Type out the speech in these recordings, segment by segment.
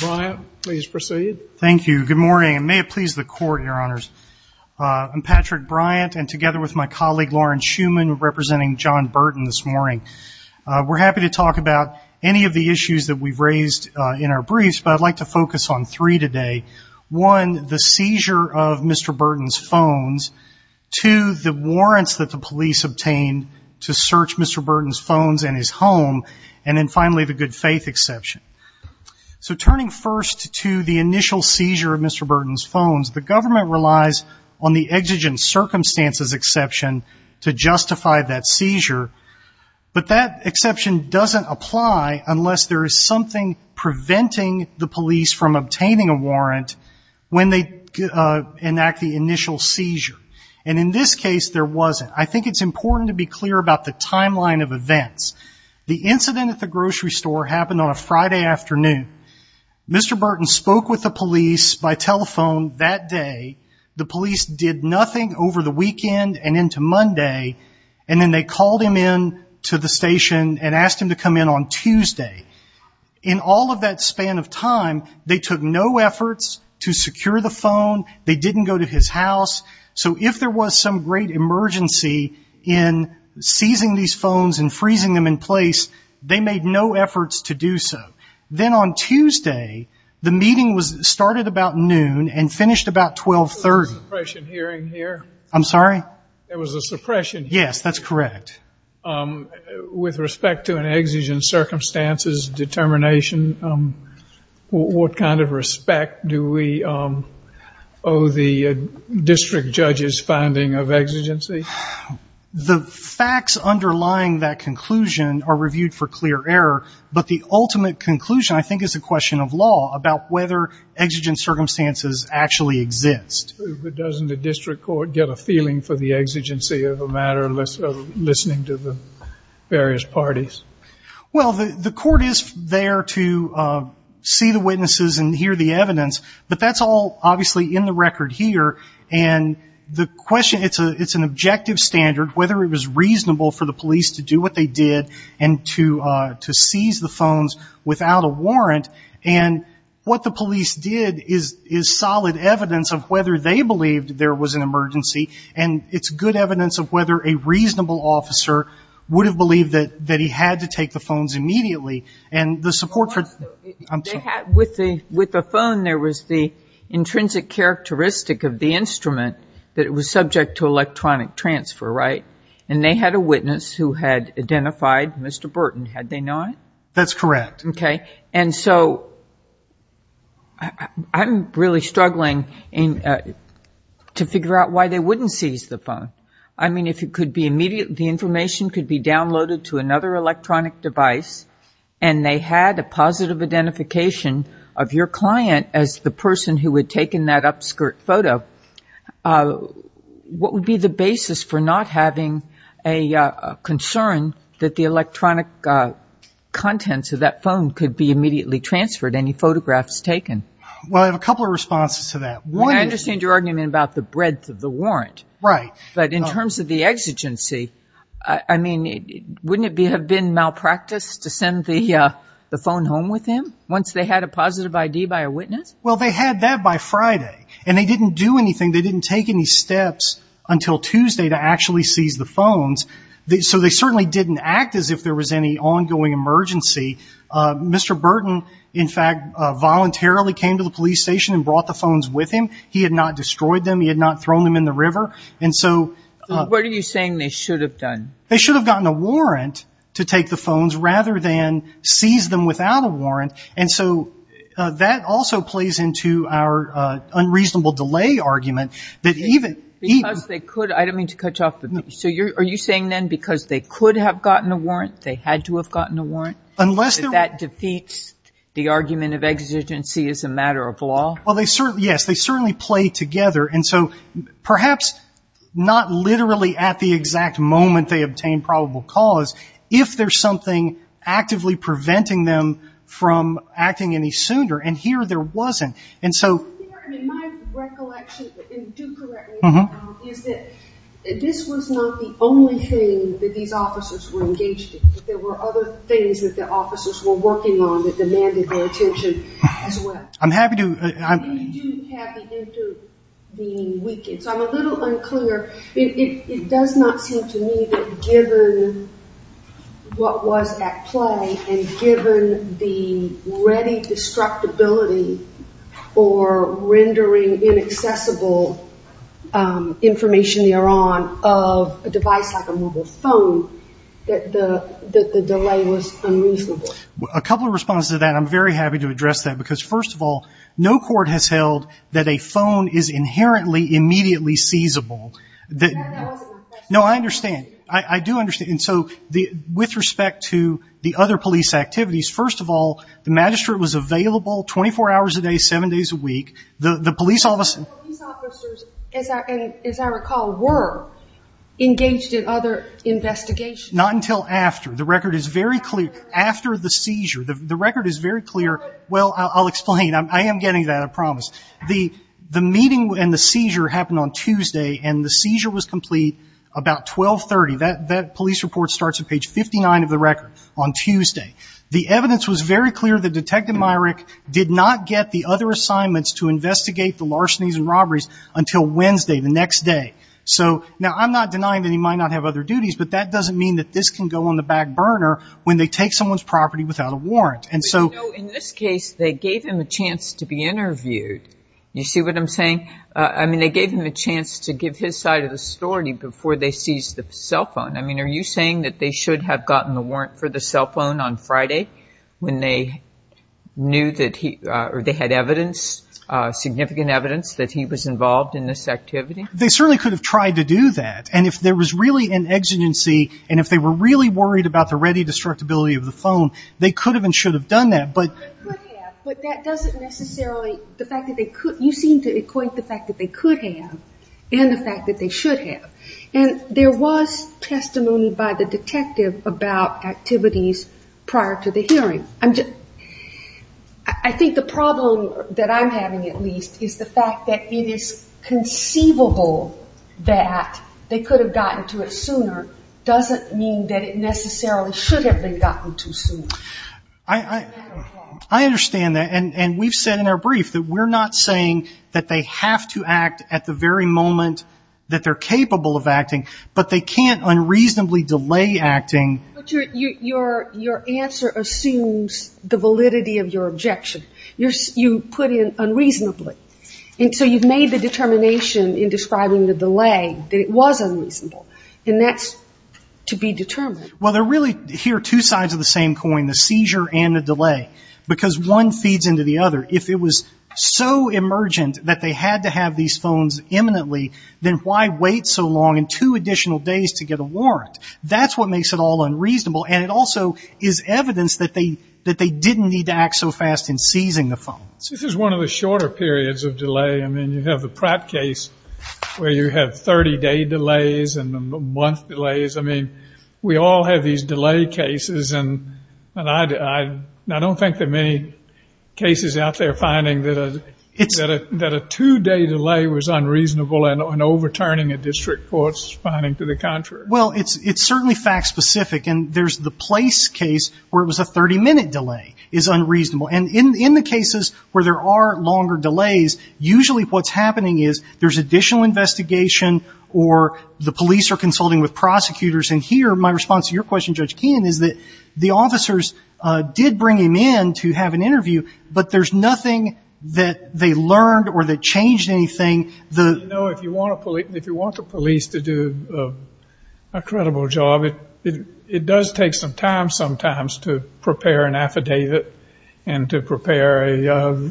Brian, please proceed. Thank you. Good morning and may it please the court, your honors. I'm Patrick Bryant and together with my colleague Lauren Shuman representing John Burton this morning. We're happy to talk about any of the issues that we've raised in our briefs, but I'd like to focus on three today. One, the seizure of Mr. Burton's phones. Two, the warrants that the police obtained to search Mr. Burton's phones and his home. And then finally, the good-faith exception. So turning first to the initial seizure of Mr. Burton's phones, the government relies on the exigent circumstances exception to justify that seizure, but that exception doesn't apply unless there is something preventing the police from obtaining a warrant when they enact the initial seizure. And in this case there wasn't. I think it's important to be clear about the timeline of events. The incident at the grocery store happened on a Friday afternoon. Mr. Burton spoke with the police by telephone that day. The police did nothing over the weekend and into Monday, and then they called him in to the station and asked him to come in on Tuesday. In all of that span of time, they took no efforts to secure the phone. They didn't go to his house. So if there was some great emergency in seizing these phones and freezing them in place, they made no efforts to do so. Then on Tuesday, the meeting started about noon and finished about 12.30. There was a suppression hearing here? I'm sorry? There was a suppression hearing? Yes, that's correct. With respect to an exigent circumstances determination, what kind of respect do we owe the district judge's finding of exigency? The facts underlying that conclusion are reviewed for clear error, but the ultimate conclusion I think is a question of law about whether exigent circumstances actually exist. But doesn't the district court get a feeling for the exigency of a matter of listening to the various parties? Well, the court is there to see the witnesses and hear the evidence, but that's all obviously in the record here. And the question, it's an objective standard whether it was reasonable for the police to do what they did and to seize the phones without a warrant. And what the police did is solid evidence of whether they believed there was an emergency, and it's good evidence of whether a reasonable officer would have believed that he had to take the phones immediately. With the phone, there was the intrinsic characteristic of the instrument that it was subject to electronic transfer, right? And they had a witness who had identified Mr. Burton, had they not? That's correct. Okay. And so I'm really struggling to figure out why they wouldn't seize the phone. If the information could be downloaded to another electronic device and they had a positive identification of your client as the person who had taken that upskirt photo, what would be the basis for not having a concern that the electronic contents of that phone could be immediately transferred, any photographs taken? Well, I have a couple of responses to that. I understand your argument about the breadth of the warrant, but in terms of the exigency, I mean, wouldn't it have been malpractice to send the phone home with him once they had a positive ID by a witness? Well, they had that by Friday, and they didn't do anything. They didn't take any steps until Tuesday to actually seize the phones. So they certainly didn't act as if there was any ongoing emergency. Mr. Burton, in fact, voluntarily came to the police station and brought the phones with him. He had not destroyed them. He had not thrown them in the river. And so... What are you saying they should have done? They should have gotten a warrant to take the phones rather than seize them without a warrant. And so that also plays into our unreasonable delay argument that even... Because they could, I don't mean to cut you off, but so are you saying then because they could have gotten a warrant, they had to have gotten a warrant? Unless... Well, yes, they certainly play together. And so perhaps not literally at the exact moment they obtained probable cause, if there's something actively preventing them from acting any sooner, and here there wasn't. And so... I mean, my recollection, and do correct me, is that this was not the only thing that these officers were engaged in. There were other things that the officers were working on that demanded their attention as well. I'm happy to... And you do have the intervening weekend. So I'm a little unclear. It does not seem to me that given what was at play and given the ready destructibility or rendering inaccessible information they are on of a device like a mobile phone, that the delay was unreasonable. A couple of responses to that. I'm very happy to address that because, first of all, no court has held that a phone is inherently immediately seizable. That wasn't my question. No, I understand. I do understand. And so with respect to the other police activities, first of all, the magistrate was available 24 hours a day, seven days a week. The police officer... The police officers, as I recall, were engaged in other investigations. Not until after. The record is very clear. After the seizure. The record is very clear. I'll explain. I am getting to that, I promise. The meeting and the seizure happened on Tuesday and the seizure was complete about 12.30. That police report starts at page 59 of the record on Tuesday. The evidence was very clear that Detective Myrick did not get the other assignments to investigate the larcenies and robberies until Wednesday, the next day. So, now I'm not denying that he might not have other duties, but that doesn't mean that this can go on the back burner when they take someone's property without a warrant. And so... They gave him a chance to be interviewed. You see what I'm saying? I mean, they gave him a chance to give his side of the story before they seized the cell phone. I mean, are you saying that they should have gotten the warrant for the cell phone on Friday when they knew that he... or they had evidence, significant evidence, that he was involved in this activity? They certainly could have tried to do that. And if there was really an exigency and if they were really worried about the ready destructibility of the phone, they could have and should have done that. They could have, but that doesn't necessarily... the fact that they could... you seem to equate the fact that they could have and the fact that they should have. And there was testimony by the detective about activities prior to the hearing. I think the problem that I'm having, at least, is the fact that it is conceivable that they could have gotten to it sooner doesn't mean that it necessarily should have been gotten to sooner. I understand that. And we've said in our brief that we're not saying that they have to act at the very moment that they're capable of acting, but they can't unreasonably delay acting. But your answer assumes the validity of your objection. You put in unreasonably. And so you've made the determination in describing the delay that it was unreasonable. And that's to be determined. Well, they're really... here are two sides of the same coin, the seizure and the delay. Because one feeds into the other. If it was so emergent that they had to have these phones imminently, then why wait so long and two additional days to get a warrant? That's what makes it all unreasonable. And it also is evidence that they didn't need to act so fast in seizing the phones. This is one of the shorter periods of delay. I mean, you have the Pratt case where you have 30-day delays and month delays. I mean, we all have these delay cases. And I don't think there are many cases out there finding that a two-day delay was unreasonable and overturning a district court's finding to the contrary. Well, it's certainly fact-specific. And there's the Place case where it was a 30-minute delay is unreasonable. And in the cases where there are longer delays, usually what's happening is there's additional investigation or the police are consulting with prosecutors. And here, my response to your question, Judge Keenan, is that the officers did bring him in to have an interview, but there's nothing that they learned or that changed anything. You know, if you want the police to do a credible job, it does take some time sometimes to prepare an affidavit and to prepare a...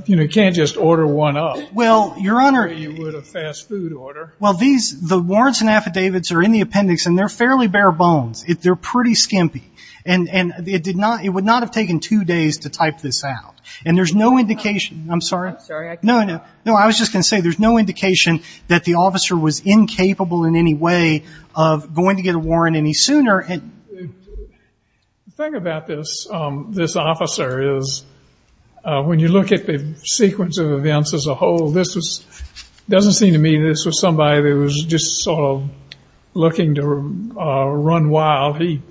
you know, you can't just order one up. Well, Your Honor... Or you would have fast food order. Well, these... the warrants and affidavits are in the appendix and they're fairly bare bones. They're pretty skimpy. And it did not... it would not have taken two days to type this out. And there's no indication... I'm sorry. I'm sorry, I can't hear you. No, no. No, I was just going to say there's no indication that the officer was incapable in any way of going to get a warrant any sooner. The thing about this officer is when you look at the sequence of events as a whole, this was... doesn't seem to me this was somebody that was just sort of looking to run wild. He...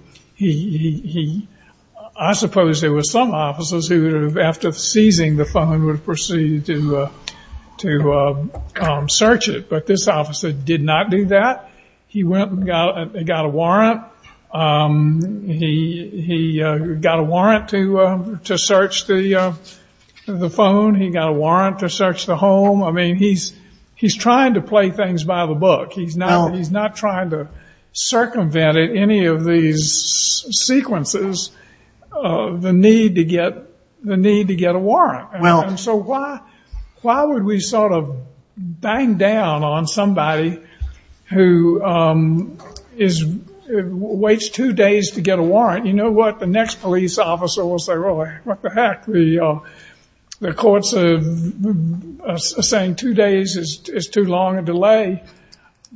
I suppose there were some officers who, after seizing the phone, would proceed to search it. But this officer did not do that. He went and got a warrant. He got a warrant to search the phone. He got a warrant to search the home. I mean, he's trying to play things by the book. He's not trying to circumvent in any of these sequences the need to get a warrant. Why would we sort of bang down on somebody who is... waits two days to get a warrant? You know what? The next police officer will say, well, what the heck? The courts are saying two days is too long a delay.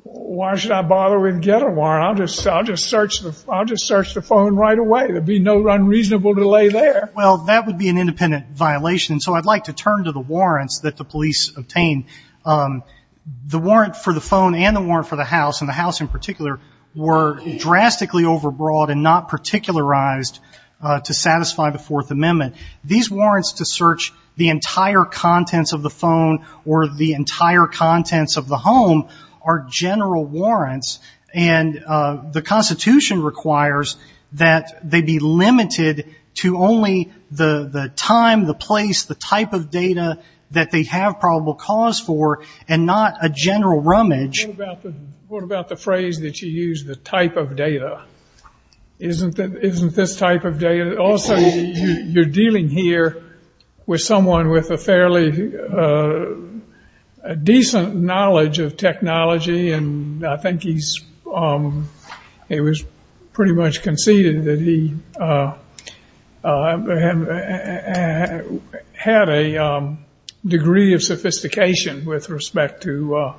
Why should I bother with getting a warrant? I'll just search the phone right away. There'd be no unreasonable delay there. Well, that would be an independent violation. So I'd like to turn to the warrants that the police obtained. The warrant for the phone and the warrant for the house, and the house in particular, were drastically overbroad and not particularized to satisfy the Fourth Amendment. These warrants to search the entire contents of the phone or the entire contents of the home are general warrants, and the Constitution requires that they be limited to only the time, the place, the type of data that they have probable cause for, and not a general rummage. What about the phrase that you use, the type of data? Isn't this type of data? Also, you're dealing here with someone with a fairly decent knowledge of data. I think it was pretty much conceded that he had a degree of sophistication with respect to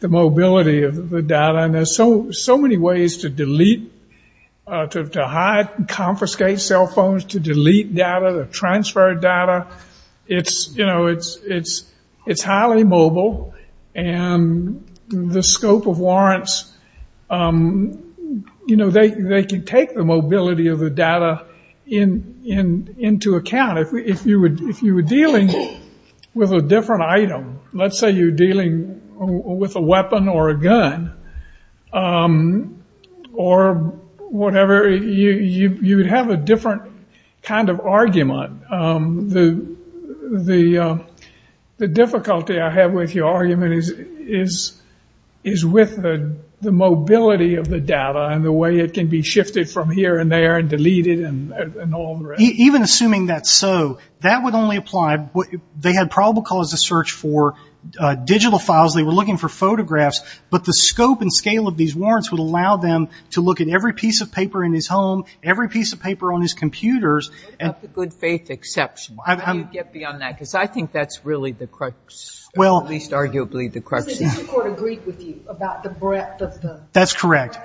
the mobility of the data, and there's so many ways to delete, to hide and confiscate cell phones, to delete data, to perhaps, you know, they can take the mobility of the data into account. If you were dealing with a different item, let's say you're dealing with a weapon or a gun, or whatever, you would have a different kind of argument. The mobility of the data and the way it can be shifted from here and there and deleted and all the rest. Even assuming that's so, that would only apply, they had probable cause to search for digital files, they were looking for photographs, but the scope and scale of these warrants would allow them to look at every piece of paper in his home, every piece of paper on his computers. What about the good faith exception? How do you get beyond that? Because I think that's really the crux, or at least arguably the crux. Does the district court agree with you about the breadth of the? That's correct.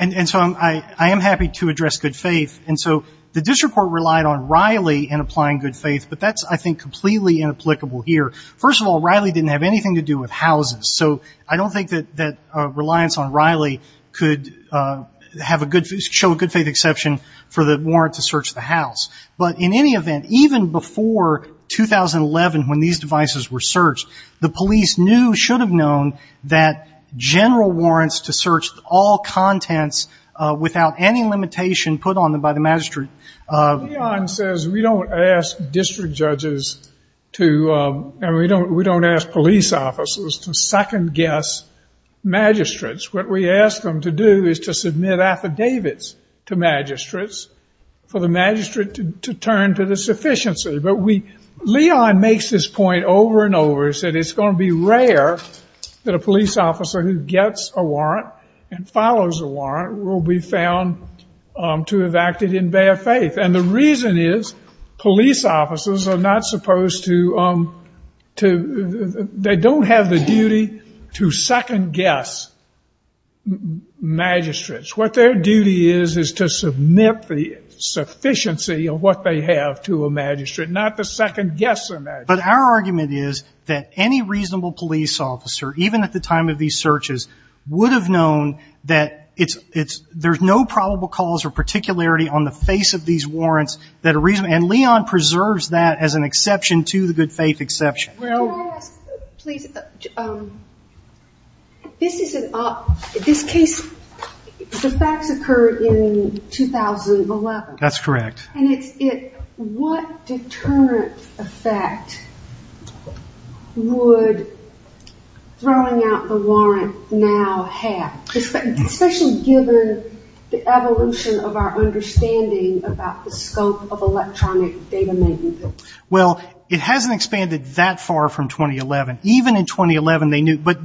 And so I am happy to address good faith. And so the district court relied on Riley in applying good faith, but that's, I think, completely inapplicable here. First of all, Riley didn't have anything to do with houses, so I don't think that reliance on Riley could show a good faith exception for the warrant to search the house. But in any event, even before 2011 when these devices were searched, the general warrants to search all contents without any limitation put on them by the magistrate. Leon says we don't ask district judges to, and we don't ask police officers to second guess magistrates. What we ask them to do is to submit affidavits to magistrates for the magistrate to turn to the sufficiency. But Leon makes this point over and over, he said it's going to be rare that a police officer who gets a warrant and follows a warrant will be found to have acted in bad faith. And the reason is police officers are not supposed to, they don't have the duty to second guess magistrates. What their duty is is to submit the sufficiency of what they have to a magistrate, not to second guess a magistrate. But our argument is that any reasonable police officer, even at the time of these searches, would have known that it's, there's no probable cause or particularity on the face of these warrants that a reason, and Leon preserves that as an exception to the good faith exception. Can I ask, please, this is an, this case, the facts occurred in 2011. That's correct. And it's, what deterrent effect would throwing out the warrant now have, especially given the evolution of our understanding about the scope of electronic data maintenance? Well, it hasn't expanded that far from 2011. Even in 2011 they knew, but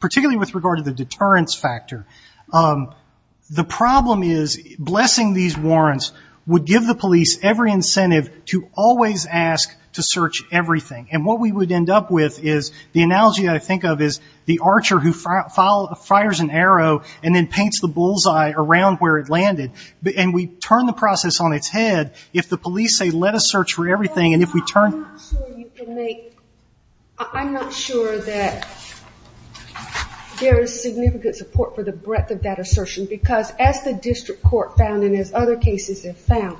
particularly with regard to the deterrence factor, the problem is blessing these warrants would give the police every incentive to always ask to search everything. And what we would end up with is, the analogy I think of is the archer who fires an arrow and then paints the bullseye around where it landed. And we turn the process on its head if the police say let us search for everything and if we turn. I'm not sure you can make, I'm not sure that there is significant support for the breadth of that assertion because as the district court found and as other cases have found,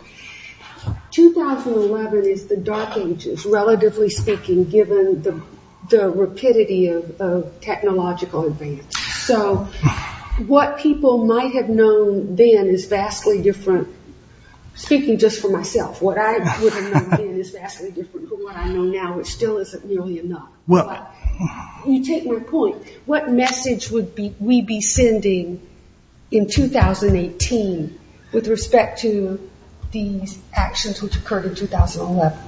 2011 is the dark ages, relatively speaking, given the rapidity of technological advance. So what people might have known then is vastly different, speaking just for myself, what I would have known then is vastly different from what I know now, which still isn't nearly enough. You take my point. What message would we be sending in 2018 with respect to these actions which occurred in 2011?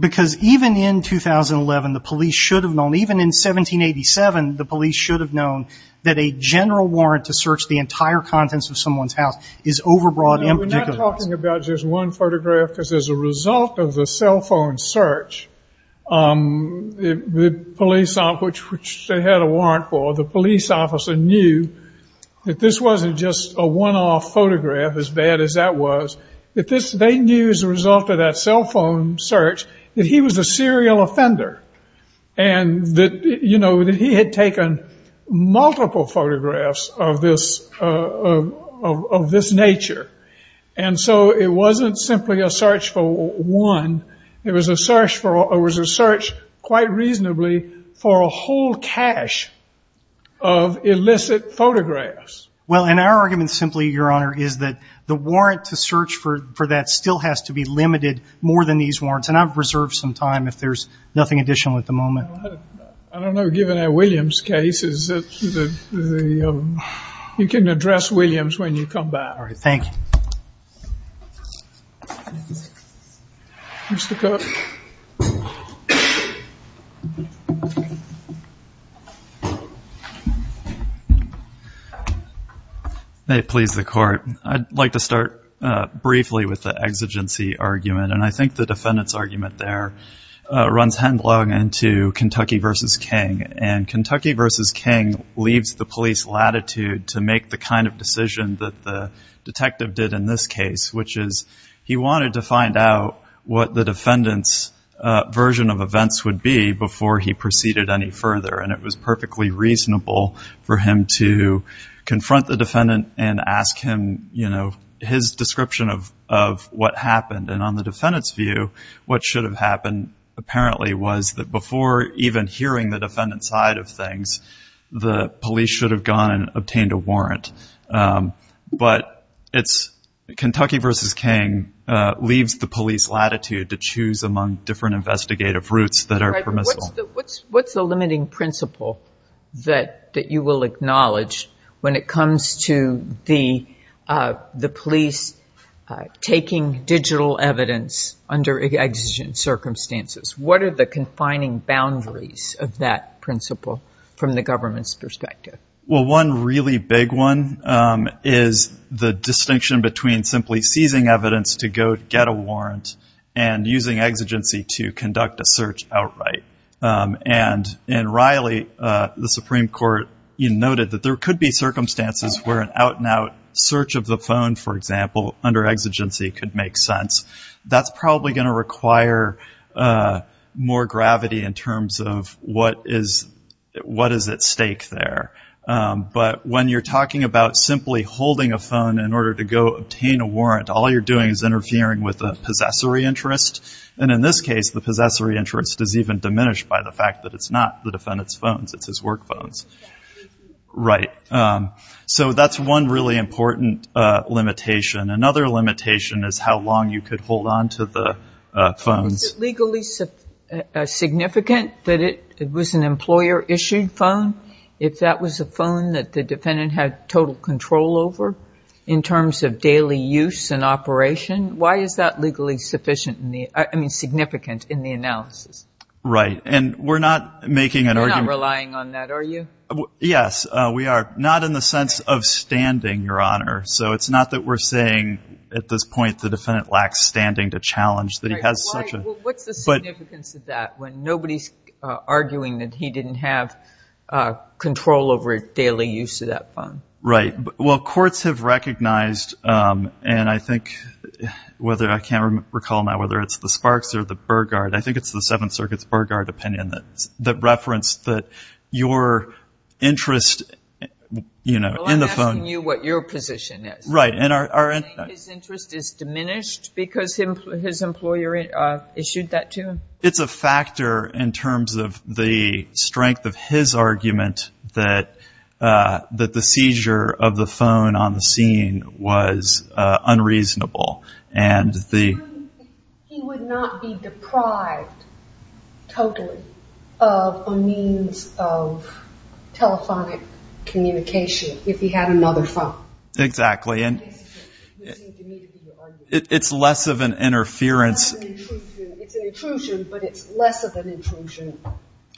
Because even in 2011, the police should have known, even in 1787, the police should have known that a general warrant to search the entire contents of someone's house is overbroad in particular. I'm not talking about just one photograph because as a result of the cell phone search, the police, which they had a warrant for, the police officer knew that this wasn't just a one-off photograph, as bad as that was. They knew as a result of that cell phone search that he was a serial offender and that he had taken multiple photographs of this nature. And so it wasn't simply a search for one. It was a search quite reasonably for a whole cache of illicit photographs. Well, and our argument simply, Your Honor, is that the warrant to search for that still has to be limited more than these warrants. And I've reserved some time if there's nothing additional at the moment. Well, I don't know. Given our Williams case, you can address Williams when you come back. All right. Thank you. Mr. Cook. May it please the Court. I'd like to start briefly with the exigency argument. And I think the defendant's argument there runs headlong into Kentucky v. King. And Kentucky v. King leaves the police latitude to make the kind of decision that the detective did in this case, which is he wanted to find out what the defendant's version of events would be before he proceeded any further. And it was perfectly reasonable for him to confront the defendant and ask him, you know, his description of what happened. And on the defendant's view, what should have happened apparently was that before even hearing the defendant's side of things, the police should have gone and obtained a warrant. But it's Kentucky v. King leaves the police latitude to choose among different investigative routes that are permissible. What's the limiting principle that you will acknowledge when it comes to the evidence under exigent circumstances? What are the confining boundaries of that principle from the government's perspective? Well, one really big one is the distinction between simply seizing evidence to go get a warrant and using exigency to conduct a search outright. And in Riley, the Supreme Court noted that there could be circumstances where an out-and-out search of the phone, for example, under exigency could make sense. That's probably going to require more gravity in terms of what is at stake there. But when you're talking about simply holding a phone in order to go obtain a warrant, all you're doing is interfering with the possessory interest. And in this case, the possessory interest is even diminished by the fact that it's not the defendant's phones. It's his work phones. Right. So that's one really important limitation. Another limitation is how long you could hold on to the phones. Is it legally significant that it was an employer-issued phone if that was a phone that the defendant had total control over in terms of daily use and operation? Why is that legally significant in the analysis? Right. And we're not making an argument. You're not relying on that, are you? Yes, we are. Not in the sense of standing, Your Honor. So it's not that we're saying at this point the defendant lacks standing to challenge that he has such a... Right. Well, what's the significance of that when nobody's arguing that he didn't have control over daily use of that phone? Right. Well, courts have recognized, and I think whether I can't recall now whether it's the Sparks or the Burgard, I think it's the Seventh Circuit's Burgard opinion that referenced that your interest in the phone... Well, I'm asking you what your position is. Right. Do you think his interest is diminished because his employer issued that to him? It's a factor in terms of the strength of his argument that the seizure of the phone on the scene was unreasonable. He would not be deprived totally of a means of telephonic communication if he had another phone. Exactly. And it's less of an interference... It's an intrusion, but it's less of an intrusion.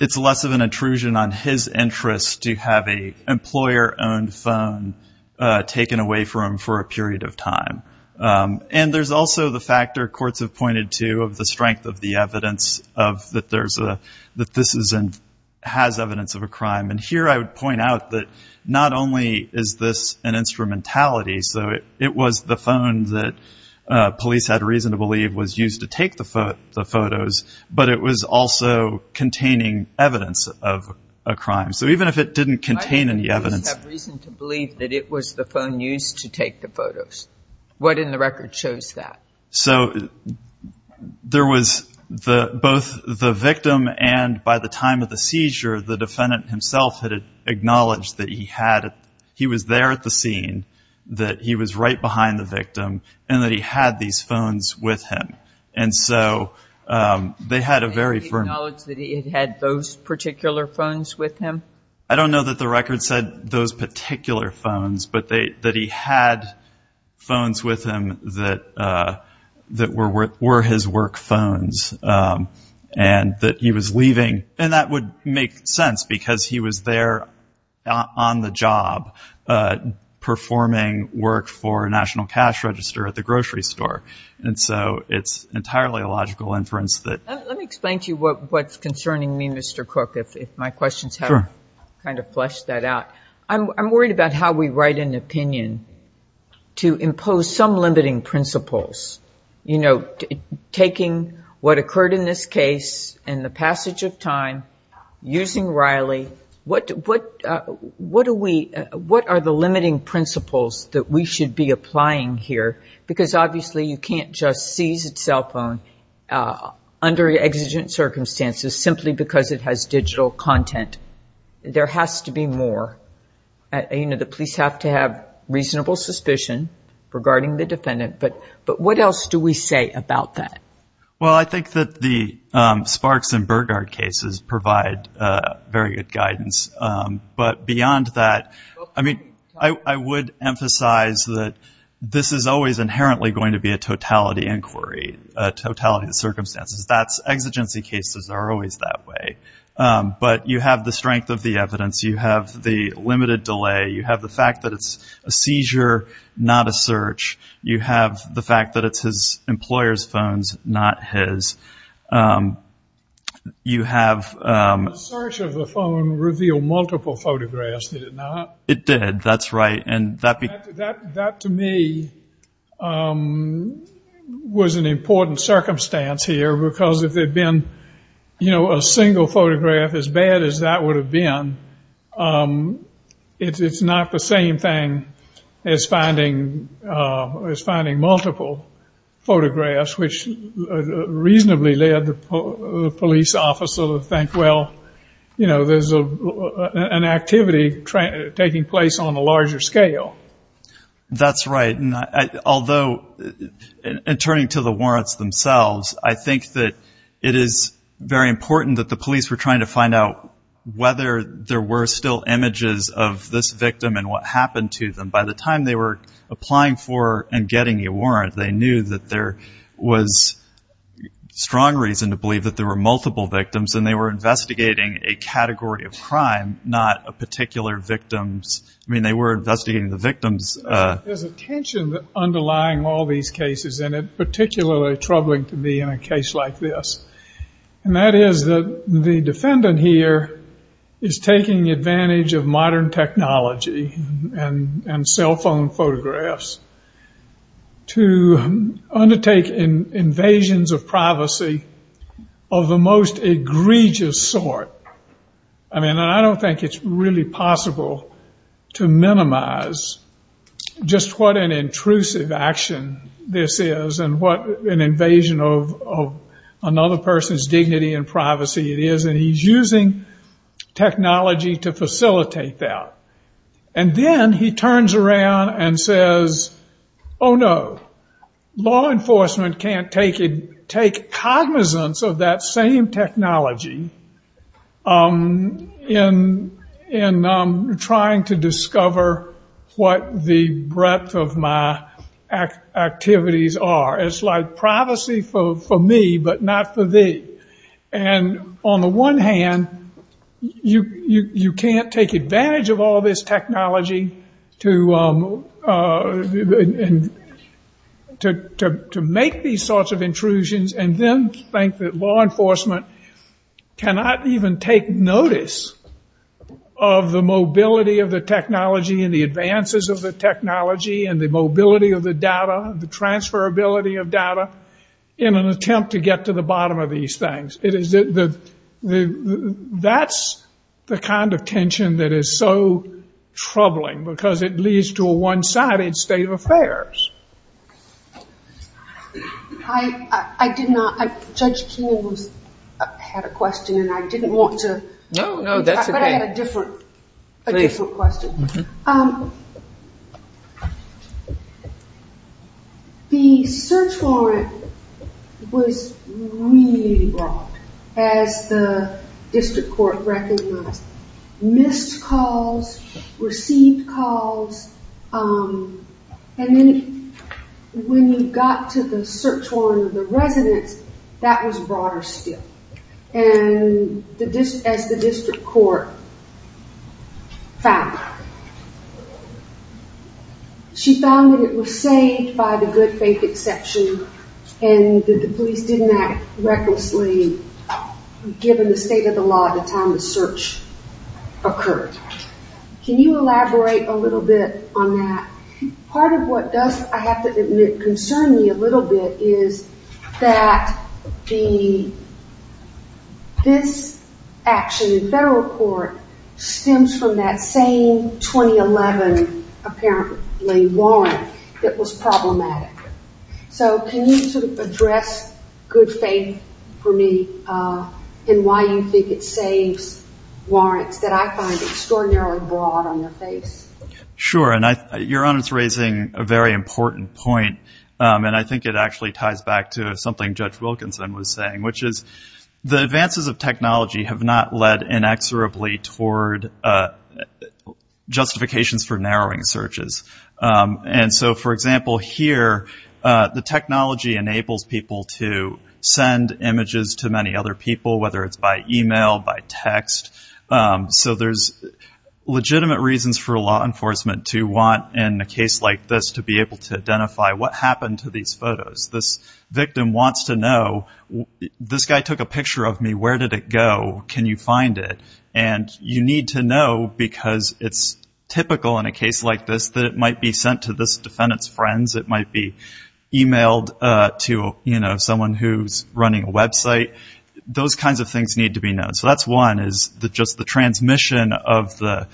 It's less of an intrusion on his interest to have a employer-owned phone taken away from him for a period of time. And there's also the factor courts have pointed to of the strength of the evidence that this has evidence of a crime. And here I would point out that not only is this an instrumentality, so it was the phone that police had reason to believe was used to take the photos, but it was also containing evidence of a crime. So even if it didn't contain any evidence... That it was the phone used to take the photos. What in the record shows that? So there was both the victim and by the time of the seizure, the defendant himself had acknowledged that he was there at the scene, that he was right behind the victim, and that he had these phones with him. And so they had a very firm... Did he acknowledge that he had those particular phones with him? I don't know that the record said those particular phones, but that he had phones with him that were his work phones, and that he was leaving. And that would make sense because he was there on the job performing work for National Cash Register at the grocery store. And so it's entirely a logical inference that... Let me explain to you what's concerning me, Mr. Cook, if my questions have... Sure. Kind of fleshed that out. I'm worried about how we write an opinion to impose some limiting principles. You know, taking what occurred in this case and the passage of time, using Riley, what are the limiting principles that we should be applying here? Because obviously you can't just seize a cell phone under exigent circumstances simply because it has digital content. There has to be more. You know, the police have to have reasonable suspicion regarding the defendant. But what else do we say about that? Well, I think that the Sparks and Burgard cases provide very good guidance. But beyond that, I mean, I would emphasize that this is always inherently going to be a totality inquiry, a totality of circumstances. Exigency cases are always that way. But you have the strength of the evidence. You have the limited delay. You have the fact that it's a seizure, not a search. You have the fact that it's his employer's phones, not his. You have... The search of the phone revealed multiple photographs, did it not? It did. That's right. That to me was an important circumstance here because if there had been, you know, a single photograph, as bad as that would have been, it's not the same thing as finding multiple photographs, which reasonably led the police officer to think, well, you know, there's an activity taking place on a larger scale. That's right. Although, in turning to the warrants themselves, I think that it is very important that the police were trying to find out whether there were still images of this victim and what happened to them. By the time they were applying for and getting a warrant, they knew that there was strong reason to believe that there were multiple victims and they were investigating a category of crime, not a particular victim. I mean, they were investigating the victims. There's a tension underlying all these cases, and it's particularly troubling to me in a case like this. And that is that the defendant here is taking advantage of modern technology and cell phone photographs to undertake invasions of privacy of the most egregious sort. I mean, I don't think it's really possible to minimize just what an intrusive action this is and what an invasion of another person's dignity and privacy it is. And he's using technology to facilitate that. And then he turns around and says, oh, no, law enforcement can't take cognizance of that same technology in trying to discover what the breadth of my activities are. It's like privacy for me, but not for thee. And on the one hand, you can't take advantage of all this technology to make these sorts of intrusions and then think that law enforcement cannot even take notice of the mobility of the technology and the advances of the technology and the mobility of the data, the transferability of data in an attempt to get to the bottom of these things. That's the kind of tension that is so troubling because it leads to a one-sided state of affairs. I did not. Judge King had a question, and I didn't want to. No, no, that's okay. But I had a different question. Please. The search warrant was really broad, as the district court recognized. Missed calls, received calls, and then when you got to the search warrant of the residence, that was broader still, as the district court found. She found that it was saved by the good faith exception and that the police didn't act recklessly given the state of the law at the time the search occurred. Can you elaborate a little bit on that? Part of what does, I have to admit, concern me a little bit is that this action in federal court stems from that same 2011, apparently, warrant that was problematic. Can you address good faith for me and why you think it saves warrants that I find extraordinarily broad on their face? Sure. Your Honor is raising a very important point, and I think it actually ties back to something Judge Wilkinson was saying, which is the advances of technology have not led inexorably toward justifications for narrowing searches. For example, here, the technology enables people to send images to many other people, whether it's by email, by text. There's legitimate reasons for law enforcement to want, in a case like this, to be able to identify what happened to these photos. This victim wants to know, this guy took a picture of me. Where did it go? Can you find it? You need to know, because it's typical in a case like this that it might be sent to this defendant's friends. It might be emailed to someone who's running a website. Those kinds of things need to be known. That's one, is just the transmission of the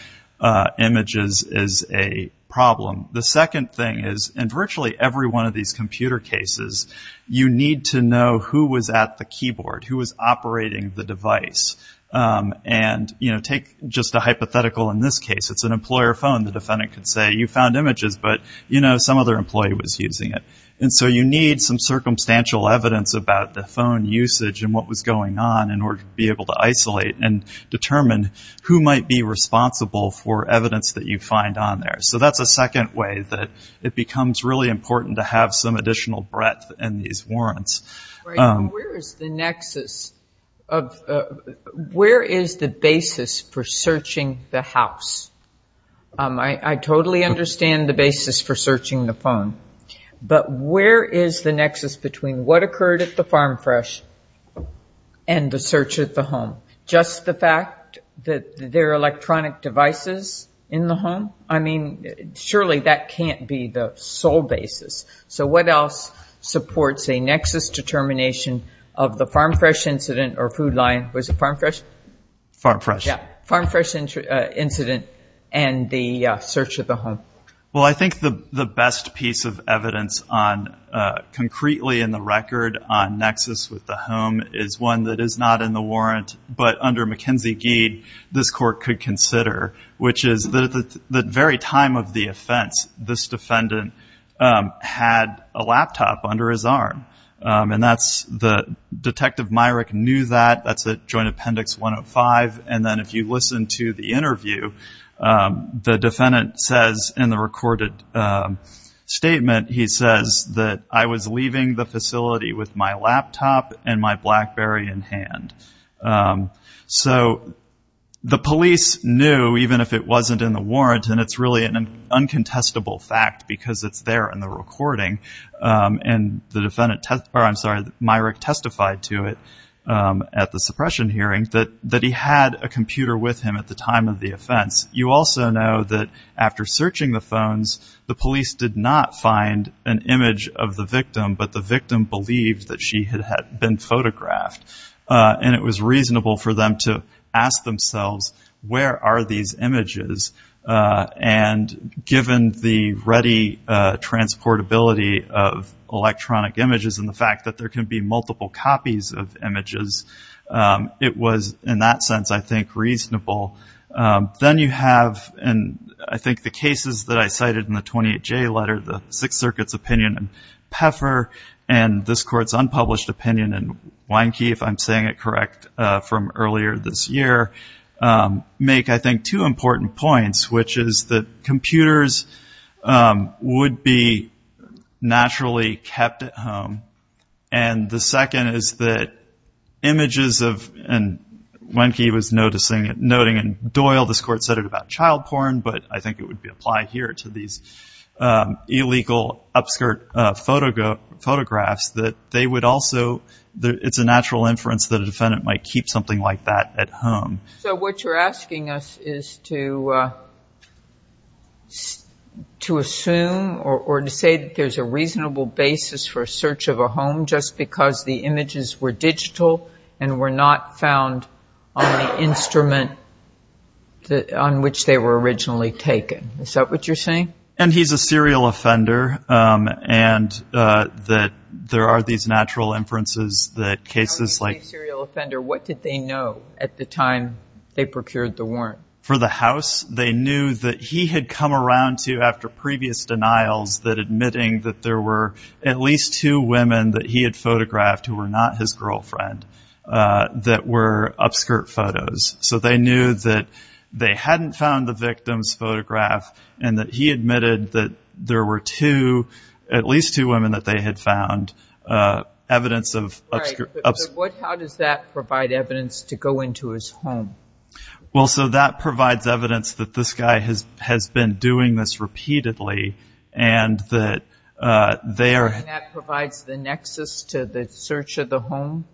images is a problem. The second thing is, in virtually every one of these computer cases, you need to know who was at the keyboard, who was operating the device. Take just a hypothetical in this case. It's an employer phone. The defendant could say, you found images, but some other employee was using it. You need some circumstantial evidence about the phone usage and what was going on in order to be able to isolate and determine who might be responsible for evidence that you find on there. That's a second way that it becomes really important to have some additional breadth in these warrants. Where is the basis for searching the house? I totally understand the basis for searching the phone, but where is the nexus between what occurred at the Farm Fresh and the search at the home? Just the fact that there are electronic devices in the home? I mean, surely that can't be the sole basis. So what else supports a nexus determination of the Farm Fresh incident or food line? Was it Farm Fresh? Farm Fresh. Yeah, Farm Fresh incident and the search of the home. Well, I think the best piece of evidence concretely in the record on nexus with the home is one that is not in the warrant, but under McKenzie-Gede, this court could consider, which is that at the very time of the offense, this defendant had a laptop under his arm. And that's the Detective Myrick knew that. That's at Joint Appendix 105. And then if you listen to the interview, the defendant says in the recorded statement, he says that I was leaving the facility with my laptop and my BlackBerry in hand. So the police knew, even if it wasn't in the warrant, and it's really an uncontestable fact because it's there in the recording, and the defendant testified to it at the suppression hearing, that he had a computer with him at the time of the offense. You also know that after searching the phones, the police did not find an image of the victim, but the victim believed that she had been photographed. And it was reasonable for them to ask themselves, where are these images? And given the ready transportability of electronic images and the fact that there can be multiple copies of images, it was, in that sense, I think, reasonable. Then you have, and I think the cases that I cited in the 28J letter, the Sixth Circuit's opinion in Pfeffer and this court's unpublished opinion in Wienke, if I'm saying it correct, from earlier this year, make, I think, two important points, which is that computers would be naturally kept at home. And the second is that images of, and Wienke was noting in Doyle, this court cited about child porn, but I think it would apply here to these illegal upskirt photographs, that they would also, it's a natural inference that a defendant might keep something like that at home. So what you're asking us is to assume or to say that there's a reasonable basis for a search of a home just because the images were digital and were not found on the instrument on which they were originally taken. Is that what you're saying? And he's a serial offender and that there are these natural inferences that cases like- When you say serial offender, what did they know at the time they procured the warrant? For the house, they knew that he had come around to, after previous denials, that admitting that there were at least two women that he had photographed who were not his girlfriend that were upskirt photos. So they knew that they hadn't found the victim's photograph and that he admitted that there were two, at least two women that they had found evidence of- Right, but how does that provide evidence to go into his home? Well, so that provides evidence that this guy has been doing this repeatedly and that they are- And that provides the nexus to the search of the home?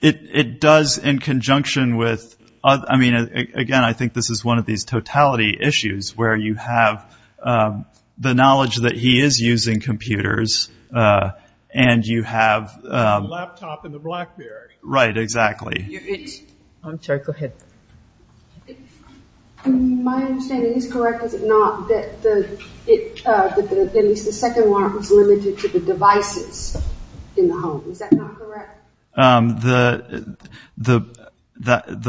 It does in conjunction with, I mean, again, I think this is one of these totality issues where you have the knowledge that he is using computers and you have- The laptop and the Blackberry. Right, exactly. I'm sorry, go ahead. My understanding is correct, is it not, that at least the second warrant was limited to the devices in the home. Is that not correct? The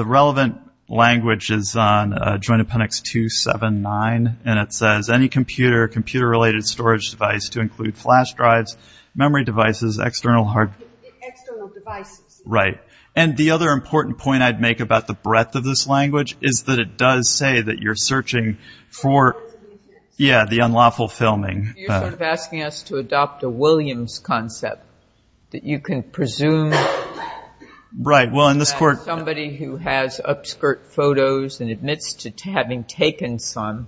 relevant language is on Joint Appendix 279, and it says, any computer or computer-related storage device to include flash drives, memory devices, external hard- External devices. Right, and the other important point I'd make about the breadth of this language is that it does say that you're searching for, yeah, the unlawful filming. You're sort of asking us to adopt a Williams concept, that you can presume- Right, well, in this court- That somebody who has upskirt photos and admits to having taken some-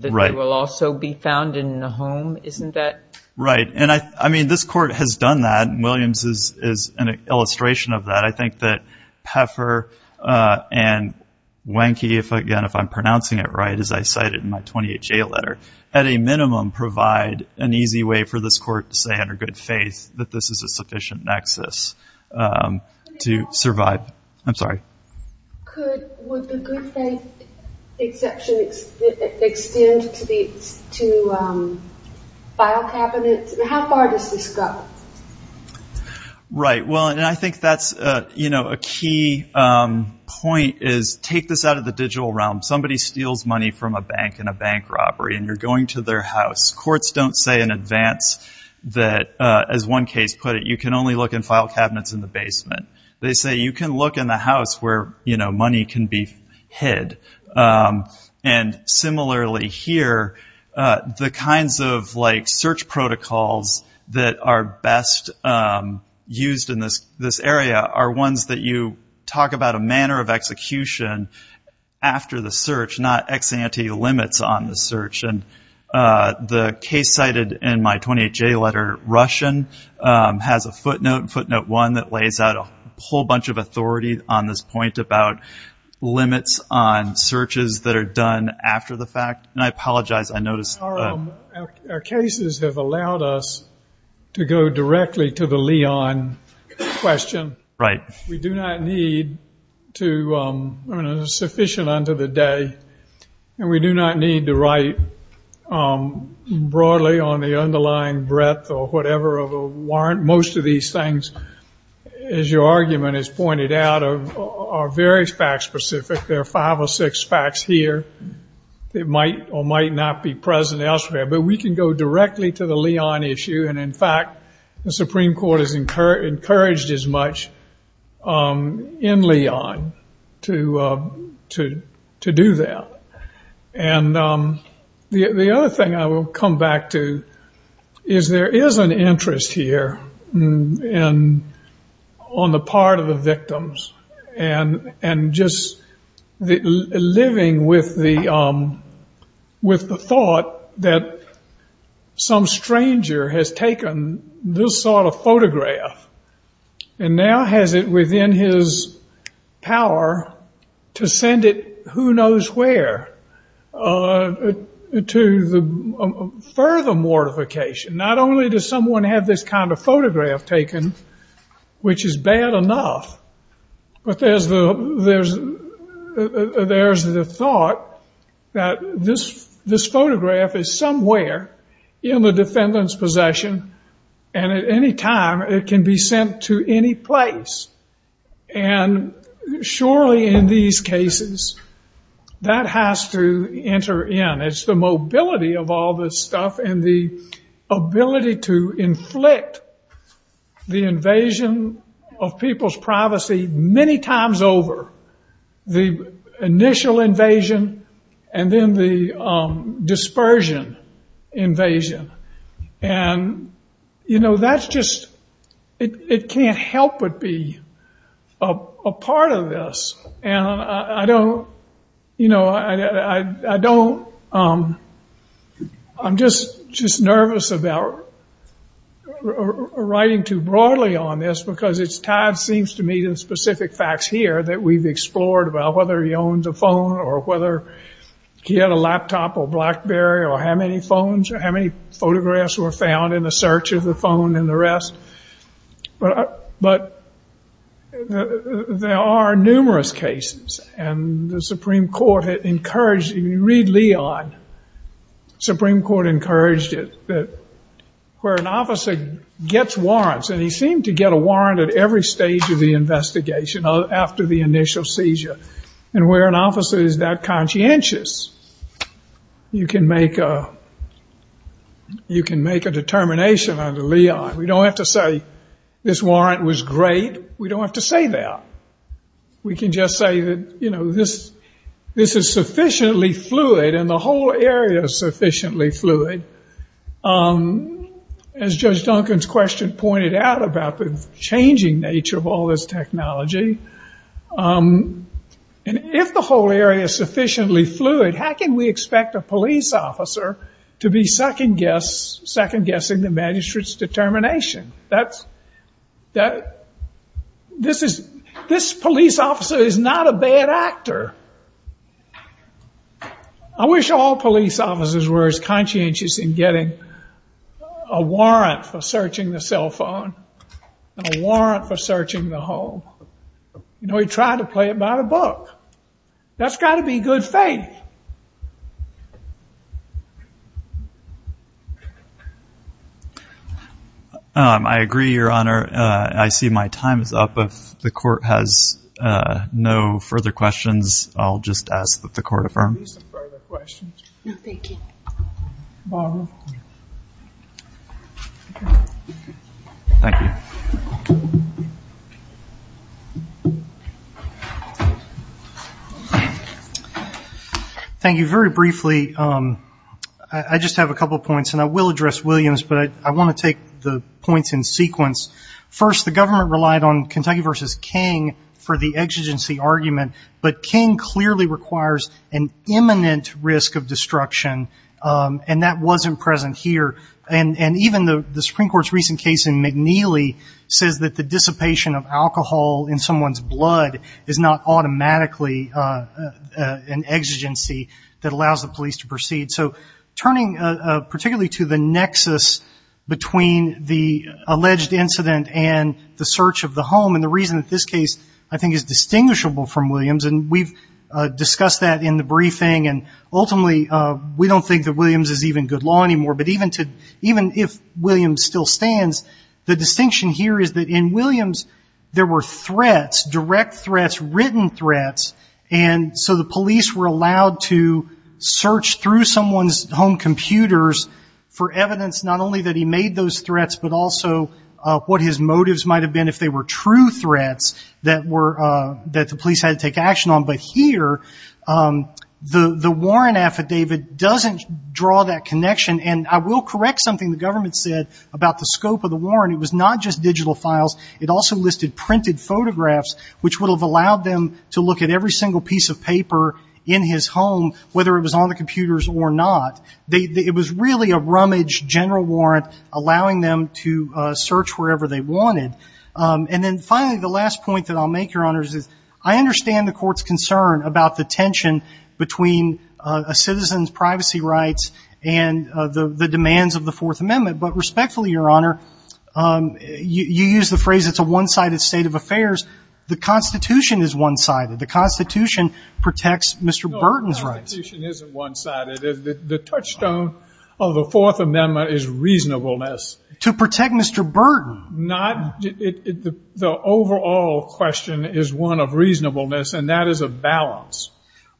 Right. That they will also be found in the home, isn't that- Right, and I mean, this court has done that, and Williams is an illustration of that. I think that Pfeffer and Wenke, again, if I'm pronouncing it right, as I cited in my 28-J letter, at a minimum provide an easy way for this court to say under good faith that this is a sufficient nexus to survive. I'm sorry. Would the good faith exception extend to file cabinets? How far does this go? Right, well, and I think that's a key point, is take this out of the digital realm. Somebody steals money from a bank in a bank robbery, and you're going to their house. Courts don't say in advance that, as one case put it, you can only look in file cabinets in the basement. They say you can look in the house where money can be hid. And similarly here, the kinds of search protocols that are best used in this area are ones that you talk about a manner of execution after the search, not ex ante limits on the search. The case cited in my 28-J letter, Russian, has a footnote, footnote one, that lays out a whole bunch of authority on this point about limits on searches that are done after the fact. And I apologize, I noticed that. Our cases have allowed us to go directly to the Leon question. Right. We do not need to, sufficient unto the day, and we do not need to write broadly on the underlying breadth or whatever of a warrant. Most of these things, as your argument has pointed out, are very fact specific. There are five or six facts here that might or might not be present elsewhere. But we can go directly to the Leon issue. And in fact, the Supreme Court has encouraged as much in Leon to do that. And the other thing I will come back to is there is an interest here on the part of the victims and just living with the thought that some stranger has taken this sort of photograph and now has it within his power to send it who knows where to further mortification. Not only does someone have this kind of photograph taken, which is bad enough, but there's the thought that this photograph is somewhere in the defendant's possession and at any time it can be sent to any place. And surely in these cases that has to enter in. It's the mobility of all this stuff and the ability to inflict the invasion of people's privacy many times over, the initial invasion and then the dispersion invasion. And, you know, that's just, it can't help but be a part of this. And I don't, you know, I don't, I'm just nervous about writing too broadly on this because it's tied, it seems to me, to specific facts here that we've explored about whether he owns a phone or whether he had a laptop or Blackberry or how many phones or how many photographs were found in the search of the phone and the rest. But there are numerous cases and the Supreme Court encouraged, if you read Leon, the Supreme Court encouraged it that where an officer gets warrants, and he seemed to get a warrant at every stage of the investigation after the initial seizure, and where an officer is that conscientious, you can make a determination under Leon. We don't have to say this warrant was great. We don't have to say that. We can just say that, you know, this is sufficiently fluid and the whole area is sufficiently fluid. As Judge Duncan's question pointed out about the changing nature of all this technology, and if the whole area is sufficiently fluid, how can we expect a police officer to be second-guessing the magistrate's determination? This police officer is not a bad actor. I wish all police officers were as conscientious in getting a warrant for searching the cell phone and a warrant for searching the home. You know, he tried to play it by the book. That's got to be good faith. I agree, Your Honor. I see my time is up. If the court has no further questions, I'll just ask that the court affirm. Thank you. Barbara. Thank you. Thank you. Very briefly, I just have a couple of points, and I will address Williams, but I want to take the points in sequence. First, the government relied on Kentucky v. King for the exigency argument, but King clearly requires an imminent risk of destruction, and that wasn't present here. And even the Supreme Court's recent case in McNeely says that the dissipation of alcohol in someone's blood is not automatically an exigency that allows the police to proceed. So turning particularly to the nexus between the alleged incident and the search of the home, and the reason that this case I think is distinguishable from Williams, and we've discussed that in the briefing, and ultimately we don't think that Williams is even good law anymore, but even if Williams still stands, the distinction here is that in Williams there were threats, direct threats, written threats, and so the police were allowed to search through someone's home computers for evidence not only that he made those threats, but also what his motives might have been if they were true threats that the police had to take action on. But here, the warrant affidavit doesn't draw that connection, and I will correct something the government said about the scope of the warrant. It was not just digital files. It also listed printed photographs, which would have allowed them to look at every single piece of paper in his home, whether it was on the computers or not. It was really a rummage general warrant allowing them to search wherever they wanted. And then finally, the last point that I'll make, Your Honor, is I understand the court's concern about the tension between a citizen's privacy rights and the demands of the Fourth Amendment, but respectfully, Your Honor, you use the phrase it's a one-sided state of affairs. The Constitution is one-sided. The Constitution protects Mr. Burton's rights. The Constitution isn't one-sided. The touchstone of the Fourth Amendment is reasonableness. To protect Mr. Burton. The overall question is one of reasonableness, and that is a balance.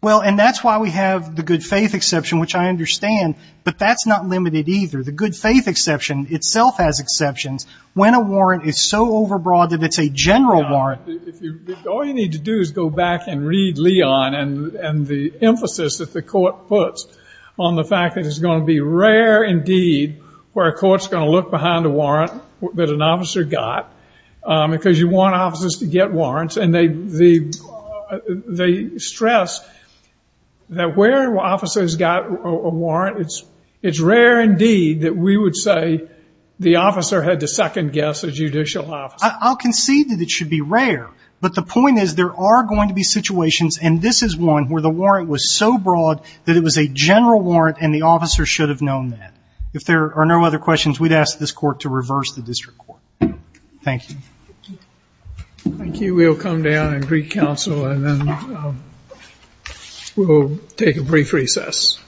Well, and that's why we have the good faith exception, which I understand, but that's not limited either. The good faith exception itself has exceptions. When a warrant is so overbroad that it's a general warrant. All you need to do is go back and read Leon and the emphasis that the court puts on the fact that it's going to be rare indeed where a court's going to look behind a warrant that an officer got because you want officers to get warrants. And they stress that where officers got a warrant, it's rare indeed that we would say the officer had to second-guess a judicial officer. I'll concede that it should be rare, but the point is there are going to be situations, and this is one where the warrant was so broad that it was a general warrant and the officer should have known that. If there are no other questions, we'd ask this court to reverse the district court. Thank you. Thank you. We'll come down and recounsel and then we'll take a brief recess.